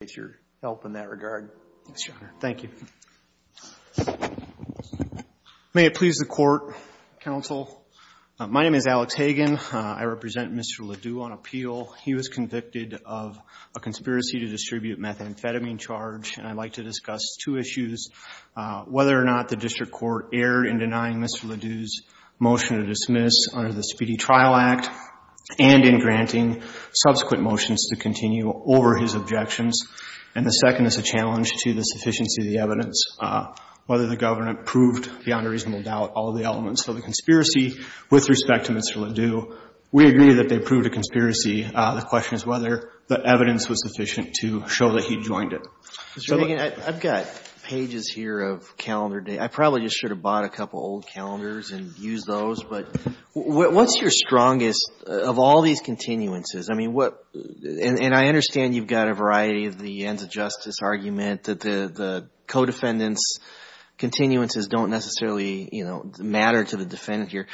with your help in that regard. Thanks, Your Honor. Thank you. May it please the Court, Counsel, my name is Alex Hagen. I represent Mr. LaDeaux on appeal. He was convicted of a conspiracy to distribute methamphetamine charge, and I'd like to discuss two issues, whether or not the District Court erred in denying Mr. LaDeaux's motion to dismiss under the Speedy Trial Act and in granting subsequent motions to continue over his objections. And the second is a challenge to the sufficiency of the evidence, whether the government proved beyond a reasonable doubt all of the elements of the conspiracy with respect to Mr. LaDeaux. We agree that they proved a conspiracy. The question is whether the evidence was sufficient to show that he joined it. Mr. Hagen, I've got pages here of calendar dates. I probably just should have bought a couple old calendars and used those, but what's your strongest of all these continuances? I mean, what — and I understand you've got a variety of the ends of justice argument, that the co-defendants' continuances don't necessarily, you know, matter to the defendant here.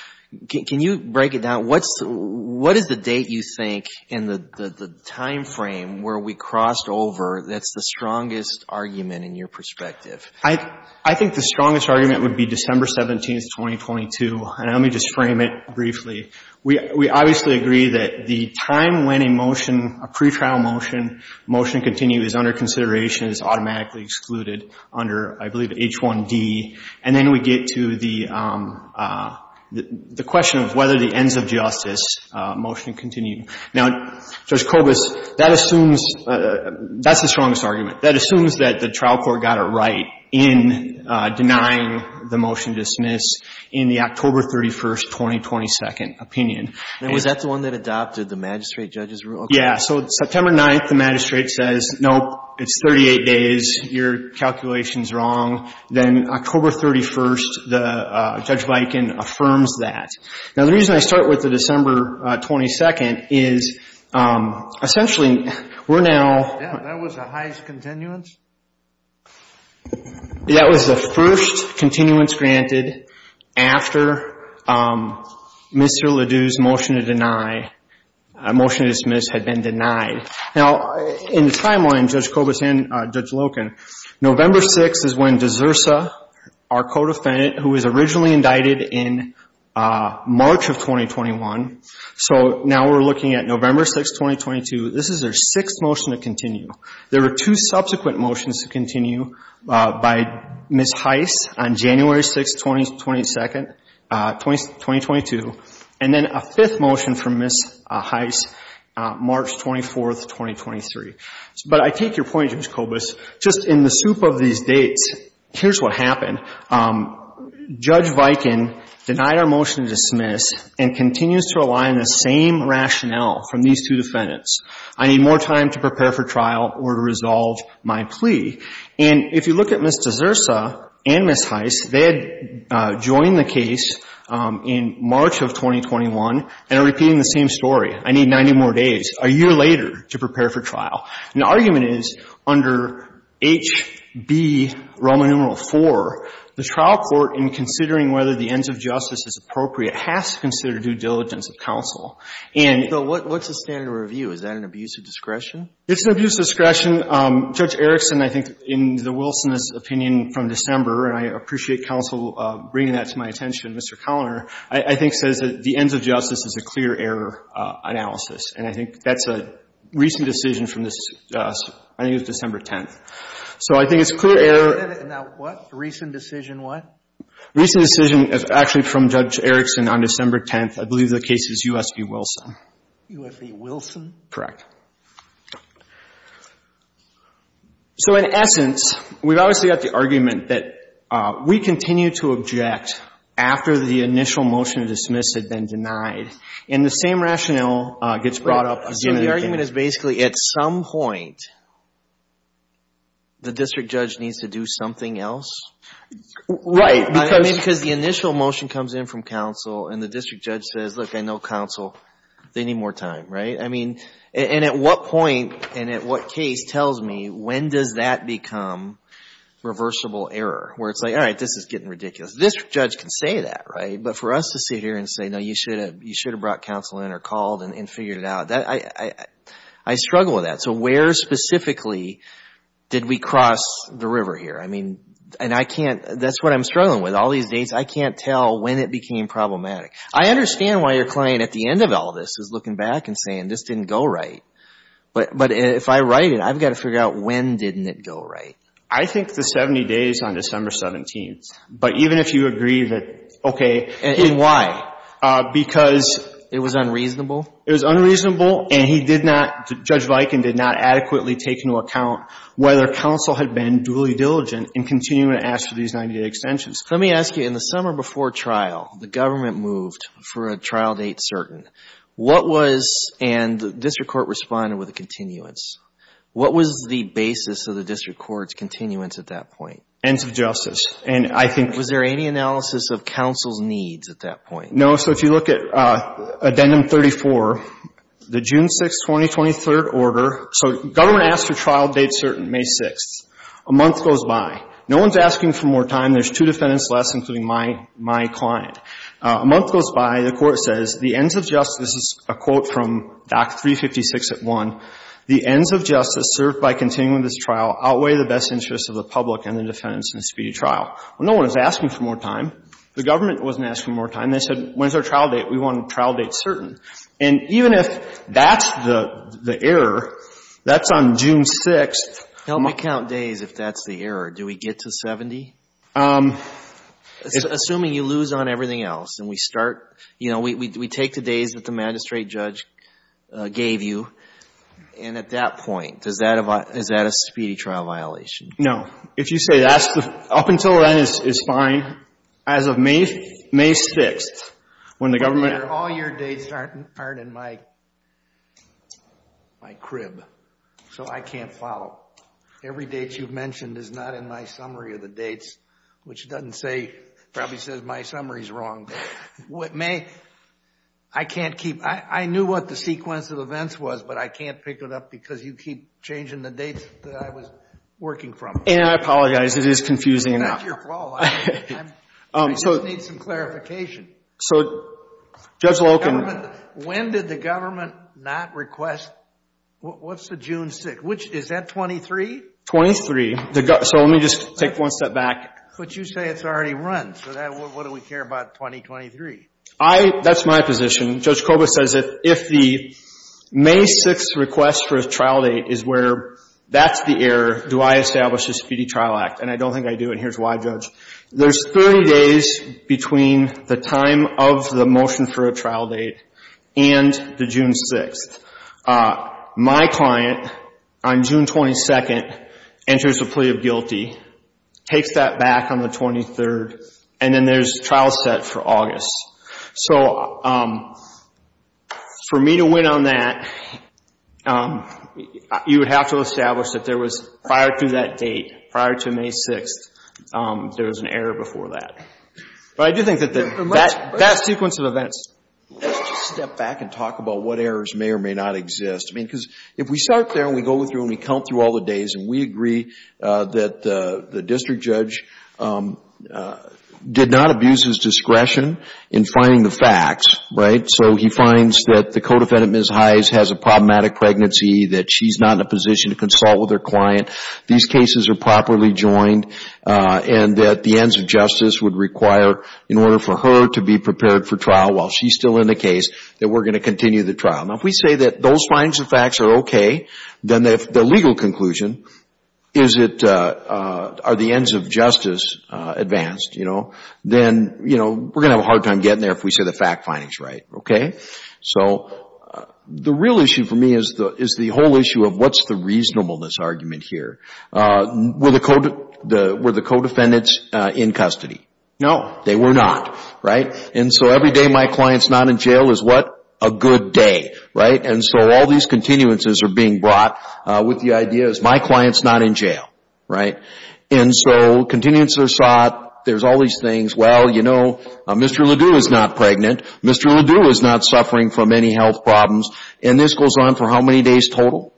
Can you break it down? What's — what is the date, you think, in the timeframe where we crossed over that's the strongest argument in your perspective? I think the strongest argument would be December 17th, 2022, and let me just frame it briefly. We obviously agree that the time when a motion, a pretrial motion, motion to continue is under consideration is automatically excluded under, I believe, H1D. And then we get to the question of whether the ends of justice motion to continue. Now, Judge Kobus, that assumes — that's the strongest argument. That assumes that the trial court got it right in denying the motion to dismiss in the October 31st, 2022, opinion. And was that the one that adopted the magistrate judge's rule? Yeah. So September 9th, the magistrate says, nope, it's 38 days, your calculation's wrong. Then October 31st, the Judge Bikin affirms that. Now, the reason I start with the December 22nd is essentially we're now — That was the highest continuance? That was the first continuance granted after Mr. Ledoux's motion to deny — motion to dismiss had been denied. Now, in the timeline, Judge Kobus and Judge Loken, November 6th is when De Zursa, our co-defendant who was originally indicted in March of 2021 — so now we're looking at November 6th, 2022. This is their sixth motion to continue. There were two subsequent motions to continue by Ms. Heiss on January 6th, 2022, and then a fifth motion from Ms. Heiss, March 24th, 2023. But I take your point, Judge Kobus. Just in the soup of these dates, here's what happened. Judge Bikin denied our motion to dismiss and continues to rely on the same rationale from these two defendants. I need more time to prepare for trial or to resolve my plea. And if you look at Ms. De Zursa and Ms. Heiss, they had joined the case in March of 2021 and are repeating the same story. I need 90 more days, a year later, to prepare for trial. And the argument is under H.B. Roma numeral IV, the trial court, in considering whether the ends of justice is appropriate, has to consider due diligence of counsel. So what's the standard of review? Is that an abuse of discretion? It's an abuse of discretion. Judge Erickson, I think, in the Wilsonist opinion from December, and I appreciate counsel bringing that to my attention, Mr. Coloner, I think says that the ends of justice is a clear error analysis. And I think that's a recent decision from this, I think it was December 10th. So I think it's clear error. Now what? Recent decision what? Recent decision is actually from Judge Erickson on December 10th. I believe the case is U.S. v. Wilson. U.S. v. Wilson? Correct. So in essence, we've obviously got the argument that we continue to object after the initial motion of dismiss had been denied, and the same rationale gets brought up again and again. So the argument is basically at some point, the district judge needs to do something else? Right. Because the initial motion comes in from counsel and the district judge says, look, I know counsel, they need more time, right? I mean, and at what point and at what case tells me when does that become reversible error? Where it's like, all right, this is getting ridiculous. This judge can say that, right? But for us to sit here and say, no, you should have brought counsel in or called and figured it out, I struggle with that. So where specifically did we cross the river here? I mean, and I can't, that's what I'm struggling with. All these dates, I can't tell when it became problematic. I understand why your client at the end of all this is looking back and saying, this didn't go right. But if I write it, I've got to figure out when didn't it go right. I think the 70 days on December 17th. But even if you agree that, okay. And why? Because... It was unreasonable? It was unreasonable. And he did not, Judge Viken did not adequately take into account whether counsel had been really diligent in continuing to ask for these 90-day extensions. Let me ask you, in the summer before trial, the government moved for a trial date certain. What was, and the district court responded with a continuance. What was the basis of the district court's continuance at that point? Ends of justice. And I think... Was there any analysis of counsel's needs at that point? No. So if you look at Addendum 34, the June 6, 2023rd order. So government asked for trial date certain, May 6th. A month goes by. No one's asking for more time. There's two defendants less, including my client. A month goes by. The court says, the ends of justice, this is a quote from Doc 356 at 1, the ends of justice served by continuing this trial outweigh the best interests of the public and the defendants in a speedy trial. Well, no one was asking for more time. The government wasn't asking for more time. They said, when's our trial date? We want a trial date certain. And even if that's the error, that's on June 6th. Help me count days if that's the error. Do we get to 70? Assuming you lose on everything else and we start, you know, we take the days that the magistrate judge gave you. And at that point, is that a speedy trial violation? No. If you say that's the... Up until then, it's fine. As of May 6th, when the government... All your dates aren't in my crib, so I can't follow. Every date you've mentioned is not in my summary of the dates, which doesn't say, probably says my summary's wrong. What may... I can't keep... I knew what the sequence of events was, but I can't pick it up because you keep changing the dates that I was working from. And I apologize. It is confusing. It's not your fault. I just need some clarification. So, Judge Loken... When did the government not request... What's the June 6th? Which... Is that 23? 23. So let me just take one step back. But you say it's already run, so what do we care about 2023? That's my position. Judge Koba says that if the May 6th request for a trial date is where that's the error, do I establish a speedy trial act? And I don't think I do, and here's why, Judge. There's 30 days between the time of the motion for a trial date and the June 6th. My client on June 22nd enters a plea of guilty, takes that back on the 23rd, and then there's trial set for August. So for me to win on that, you would have to establish that there was prior to that date, prior to May 6th, there was an error before that. But I do think that that sequence of events... Let's just step back and talk about what errors may or may not exist. I mean, because if we start there and we go through and we count through all the days and we agree that the district judge did not abuse his discretion in finding the facts, right? So he finds that the co-defendant, Ms. Hize, has a problematic pregnancy, that she's not in a position to consult with her client. These cases are properly joined, and that the ends of justice would require, in order for her to be prepared for trial while she's still in the case, that we're going to continue the trial. Now, if we say that those findings and facts are okay, then the legal conclusion, are the ends of justice advanced, then we're going to have a hard time getting there if we say the fact finding's right, okay? So the real issue for me is the whole issue of what's the reasonableness argument here? Were the co-defendants in custody? No, they were not, right? And so every day my client's not in jail is what? A good day, right? And so all these continuances are being brought with the idea, is my client's not in jail, right? And so continuances are sought, there's all these things, well, you know, Mr. Ledoux is not pregnant, Mr. Ledoux is not suffering from any health problems, and this goes on for how many days total?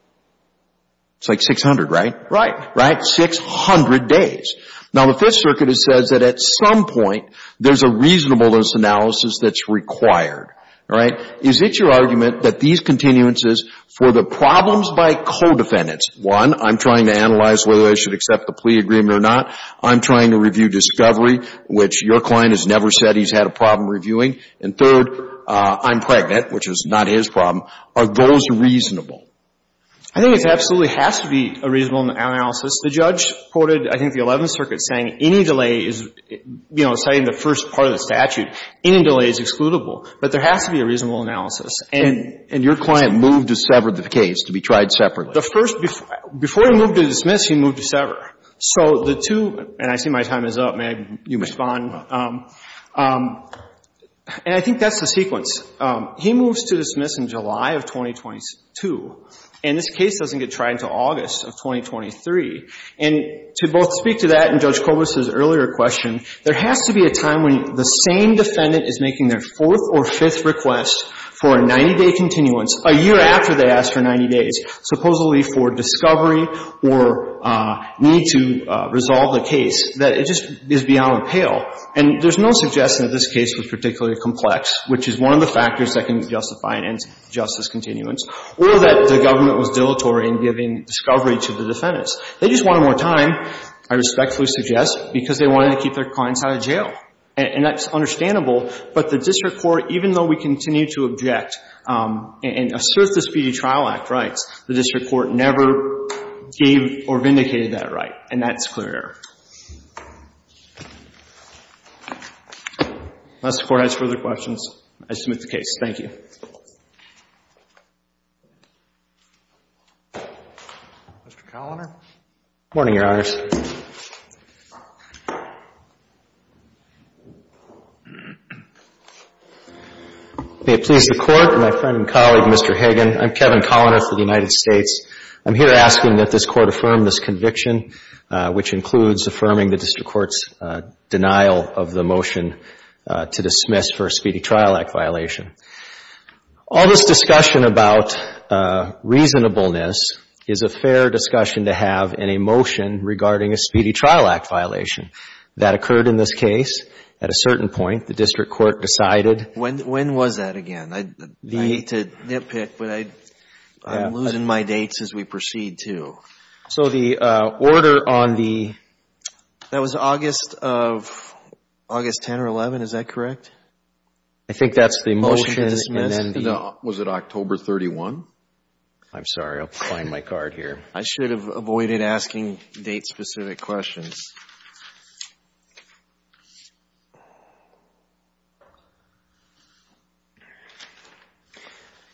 It's like 600, right? Right. Right? 600 days. Now, the Fifth Circuit says that at some point, there's a reasonableness analysis that's required, right? Is it your argument that these continuances for the problems by co-defendants, one, I'm trying to analyze whether I should accept the plea agreement or not, I'm trying to review discovery, which your client has never said he's had a problem reviewing, and third, I'm pregnant, which is not his problem, are those reasonable? I think it absolutely has to be a reasonable analysis. The judge quoted, I think, the Eleventh Circuit saying any delay is, you know, citing the first part of the statute, any delay is excludable, but there has to be a reasonable analysis. And your client moved to sever the case to be tried separately? The first, before he moved to dismiss, he moved to sever. So the two, and I see my time is up, may I, you respond, and I think that's the sequence. He moves to dismiss in July of 2022, and this case doesn't get tried until August of 2023. And to both speak to that and Judge Kobus' earlier question, there has to be a time when the same defendant is making their fourth or fifth request for a 90-day continuance a year after they asked for 90 days, supposedly for discovery or need to resolve the case, that it just is beyond pale. And there's no suggestion that this case was particularly complex, which is one of the factors that can justify an injustice continuance, or that the government was dilatory in giving discovery to the defendants. They just wanted more time, I respectfully suggest, because they wanted to keep their clients out of jail. And that's understandable, but the district court, even though we continue to object and assert the Speedy Trial Act rights, the district court never gave or vindicated that right, and that's clear error. Unless the Court has further questions, I submit the case. Thank you. Mr. Kalliner? Morning, Your Honors. May it please the Court, my friend and colleague, Mr. Hagan. I'm Kevin Kalliner for the United States. I'm here asking that this Court affirm this conviction, which includes affirming the district court's denial of the motion to dismiss for a Speedy Trial Act violation. All this discussion about reasonableness is a fair discussion to have in a motion regarding a Speedy Trial Act violation. That occurred in this case. At a certain point, the district court decided When was that again? I hate to nitpick, but I'm losing my dates as we proceed, too. So the order on the That was August of, August 10 or 11, is that correct? I think that's the motion and then the Was it October 31? I'm sorry, I'll find my card here. I should have avoided asking date-specific questions.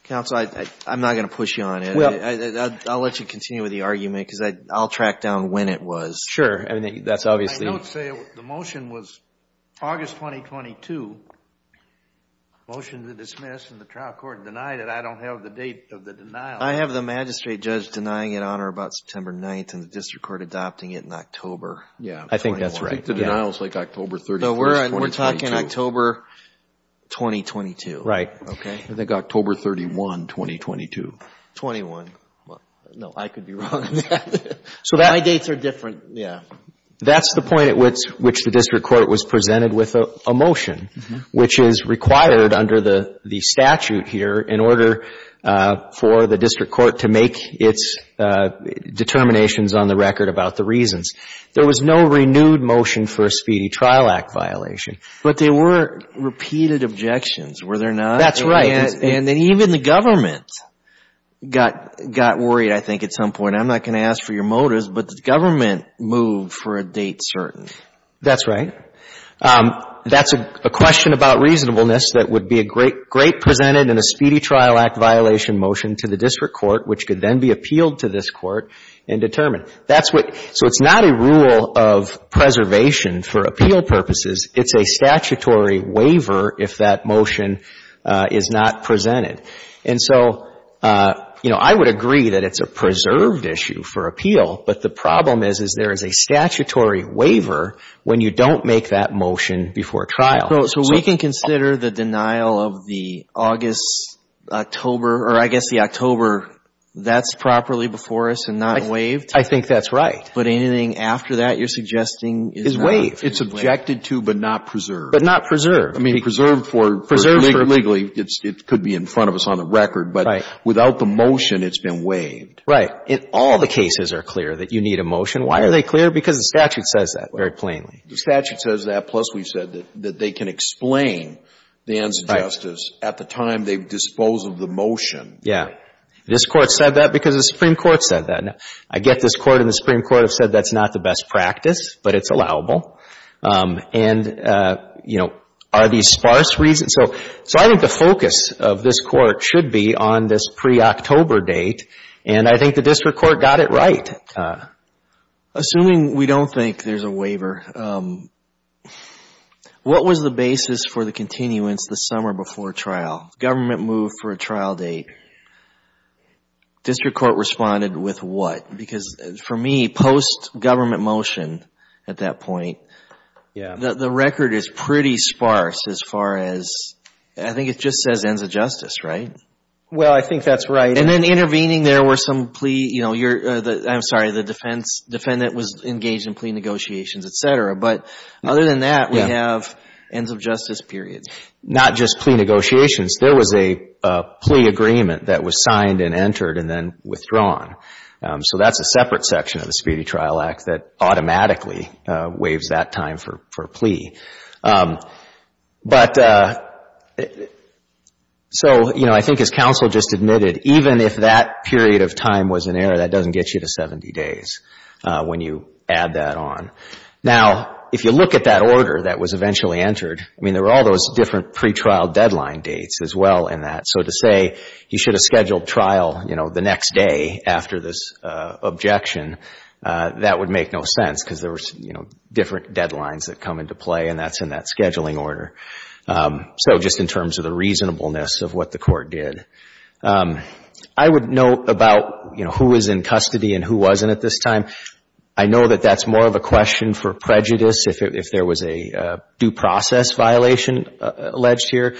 Counsel, I'm not going to push you on it. I'll let you continue with the argument because I'll track down when it was. Sure, that's obviously I don't say the motion was August 2022, motion to dismiss, and the trial court denied it. I don't have the date of the denial. I have the magistrate judge denying it on or about September 9th and the district court adopting it in October. Yeah, I think that's right. I think the denial is like October 31, 2022. No, we're talking October 2022. Right. Okay. I think October 31, 2022. 21. Well, no, I could be wrong on that. So my dates are different. Yeah. That's the point at which the district court was presented with a motion, which is required under the statute here in order for the district court to make its determinations on the record about the reasons. There was no renewed motion for a Speedy Trial Act violation. But there were repeated objections, were there not? That's right. And then even the government got worried, I think, at some point. I'm not going to ask for your motives, but the government moved for a date certain. That's right. That's a question about reasonableness that would be a great presented in a Speedy Trial Act violation motion to the district court, which could then be appealed to this court and determined. So it's not a rule of preservation for appeal purposes. It's a statutory waiver if that motion is not presented. And so, you know, I would agree that it's a preserved issue for appeal. But the problem is, is there is a statutory waiver when you don't make that motion before trial. So we can consider the denial of the August, October, or I guess the October, that's properly before us and not waived? I think that's right. But anything after that you're suggesting is not? It's objected to but not preserved. But not preserved. I mean, preserved for legally, it could be in front of us on the record. But without the motion, it's been waived. Right. And all the cases are clear that you need a motion. Why are they clear? Because the statute says that very plainly. The statute says that, plus we've said that they can explain the ends of justice at the time they dispose of the motion. Yeah. This Court said that because the Supreme Court said that. Now, I get this Court and the Supreme Court have said that's not the best practice, but it's allowable. And, you know, are these sparse reasons? So I think the focus of this Court should be on this pre-October date. And I think the District Court got it right. Assuming we don't think there's a waiver, what was the basis for the continuance the summer before trial? Government move for a trial date. District Court responded with what? Because for me, post-government motion at that point, the record is pretty sparse as far as, I think it just says ends of justice, right? Well, I think that's right. And then intervening, there were some plea, you know, I'm sorry, the defendant was engaged in plea negotiations, et cetera. But other than that, we have ends of justice periods. Not just plea negotiations. There was a plea agreement that was signed and entered and then withdrawn. So that's a separate section of the Speedy Trial Act that automatically waives that time for plea. But so, you know, I think as counsel just admitted, even if that period of time was an error, that doesn't get you to 70 days when you add that on. Now, if you look at that order that was eventually entered, I mean, there were all those different pre-trial deadline dates as well in that. So to say you should have scheduled trial, you know, the next day after this objection, that would make no sense because there was, you know, different deadlines that come into play and that's in that scheduling order. So just in terms of the reasonableness of what the court did. I would note about, you know, who was in custody and who wasn't at this time. I know that that's more of a question for prejudice if there was a due process violation alleged here.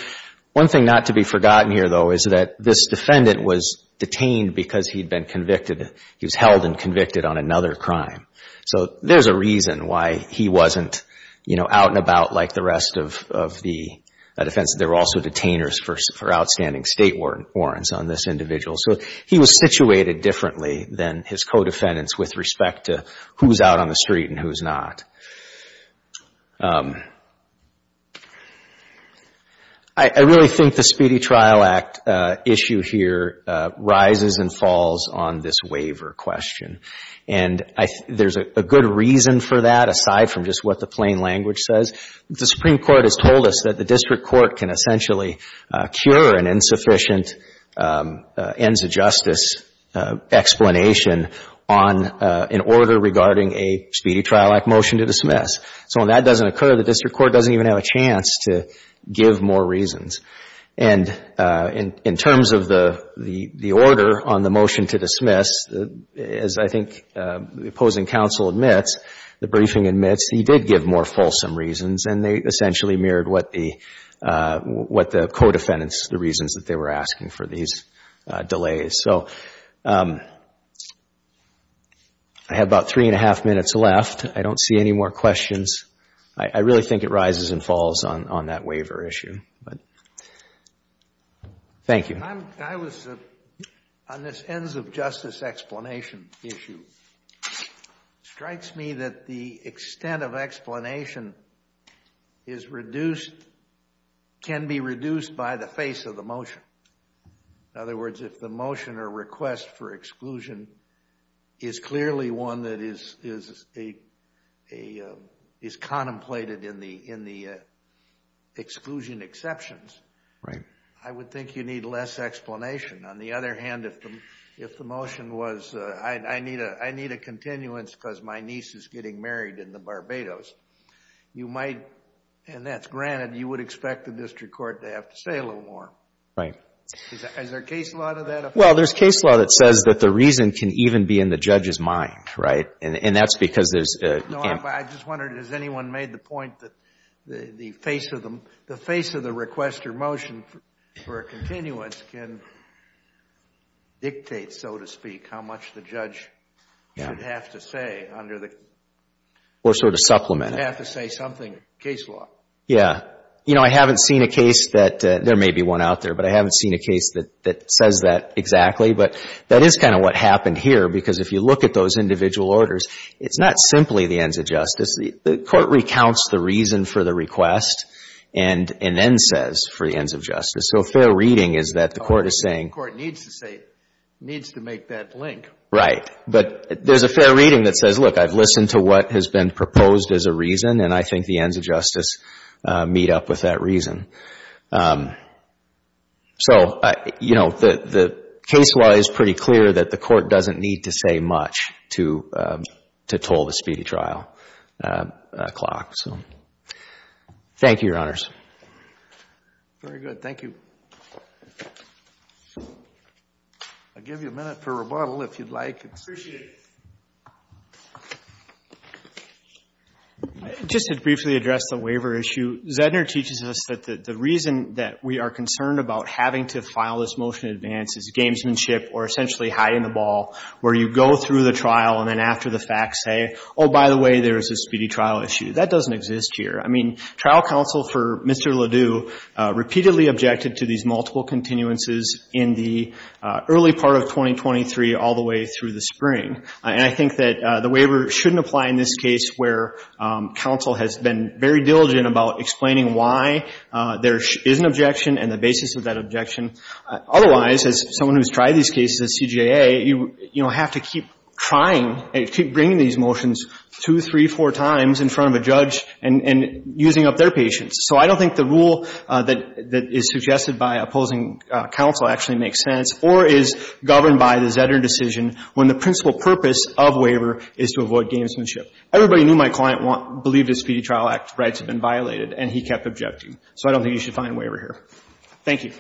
One thing not to be forgotten here, though, is that this defendant was detained because he'd been convicted. He was held and convicted on another crime. So there's a reason why he wasn't, you know, out and about like the rest of the defense. There were also detainers for outstanding state warrants on this individual. So he was situated differently than his co-defendants with respect to who's out on the street and who's not. I really think the Speedy Trial Act issue here rises and falls on this waiver question. And there's a good reason for that aside from just what the plain language says. The Supreme Court has told us that the district court can essentially cure an insufficient ends of justice explanation on an order regarding a Speedy Trial Act motion to dismiss. So when that doesn't occur, the district court doesn't even have a chance to give more reasons. And in terms of the order on the motion to dismiss, as I think the opposing counsel admits, the briefing admits, he did give more fulsome reasons. And they essentially mirrored what the co-defendants, the reasons that they were asking for these delays. So I have about three and a half minutes left. I don't see any more questions. I really think it rises and falls on that waiver issue. Thank you. I was, on this ends of justice explanation issue, it strikes me that the extent of explanation is reduced, can be reduced by the face of the motion. In other words, if the motion or request for exclusion is clearly one that is a is contemplated in the exclusion exceptions, I would think you need less explanation. On the other hand, if the motion was, I need a continuance because my niece is getting married in the Barbados, you might, and that's granted, you would expect the district court to have to say a little more. Right. Is there case law to that? Well, there's case law that says that the reason can even be in the judge's mind, right? And that's because there's... I just wondered, has anyone made the point that the face of the request or motion for a continuance can dictate, so to speak, how much the judge should have to say under the... Or sort of supplement it. Have to say something, case law. Yeah. You know, I haven't seen a case that, there may be one out there, but I haven't seen a case that says that exactly. But that is kind of what happened here, because if you look at those individual orders, it's not simply the ends of justice. The court recounts the reason for the request and then says for the ends of justice. So a fair reading is that the court is saying... The court needs to say, needs to make that link. Right. But there's a fair reading that says, look, I've listened to what has been proposed as a reason, and I think the ends of justice meet up with that reason. So, you know, the case law is pretty clear that the court doesn't need to say much to toll the speedy trial clock. So, thank you, Your Honors. Very good. Thank you. I'll give you a minute for rebuttal, if you'd like. Appreciate it. Just to briefly address the waiver issue, Zedner teaches us that the judge has the right to say, the reason that we are concerned about having to file this motion in advance is gamesmanship or essentially hiding the ball, where you go through the trial and then after the facts say, oh, by the way, there's a speedy trial issue. That doesn't exist here. I mean, trial counsel for Mr. Ledoux repeatedly objected to these multiple continuances in the early part of 2023 all the way through the spring. And I think that the waiver shouldn't apply in this case where counsel has been very diligent about explaining why there is an objection and the basis of that objection. Otherwise, as someone who's tried these cases at CJA, you have to keep trying and keep bringing these motions two, three, four times in front of a judge and using up their patience. So I don't think the rule that is suggested by opposing counsel actually makes sense or is governed by the Zedner decision when the principal purpose of waiver is to avoid gamesmanship. Everybody knew my client believed his Speedy Trial Act rights had been violated, and he kept objecting. So I don't think you should find a waiver here. Thank you.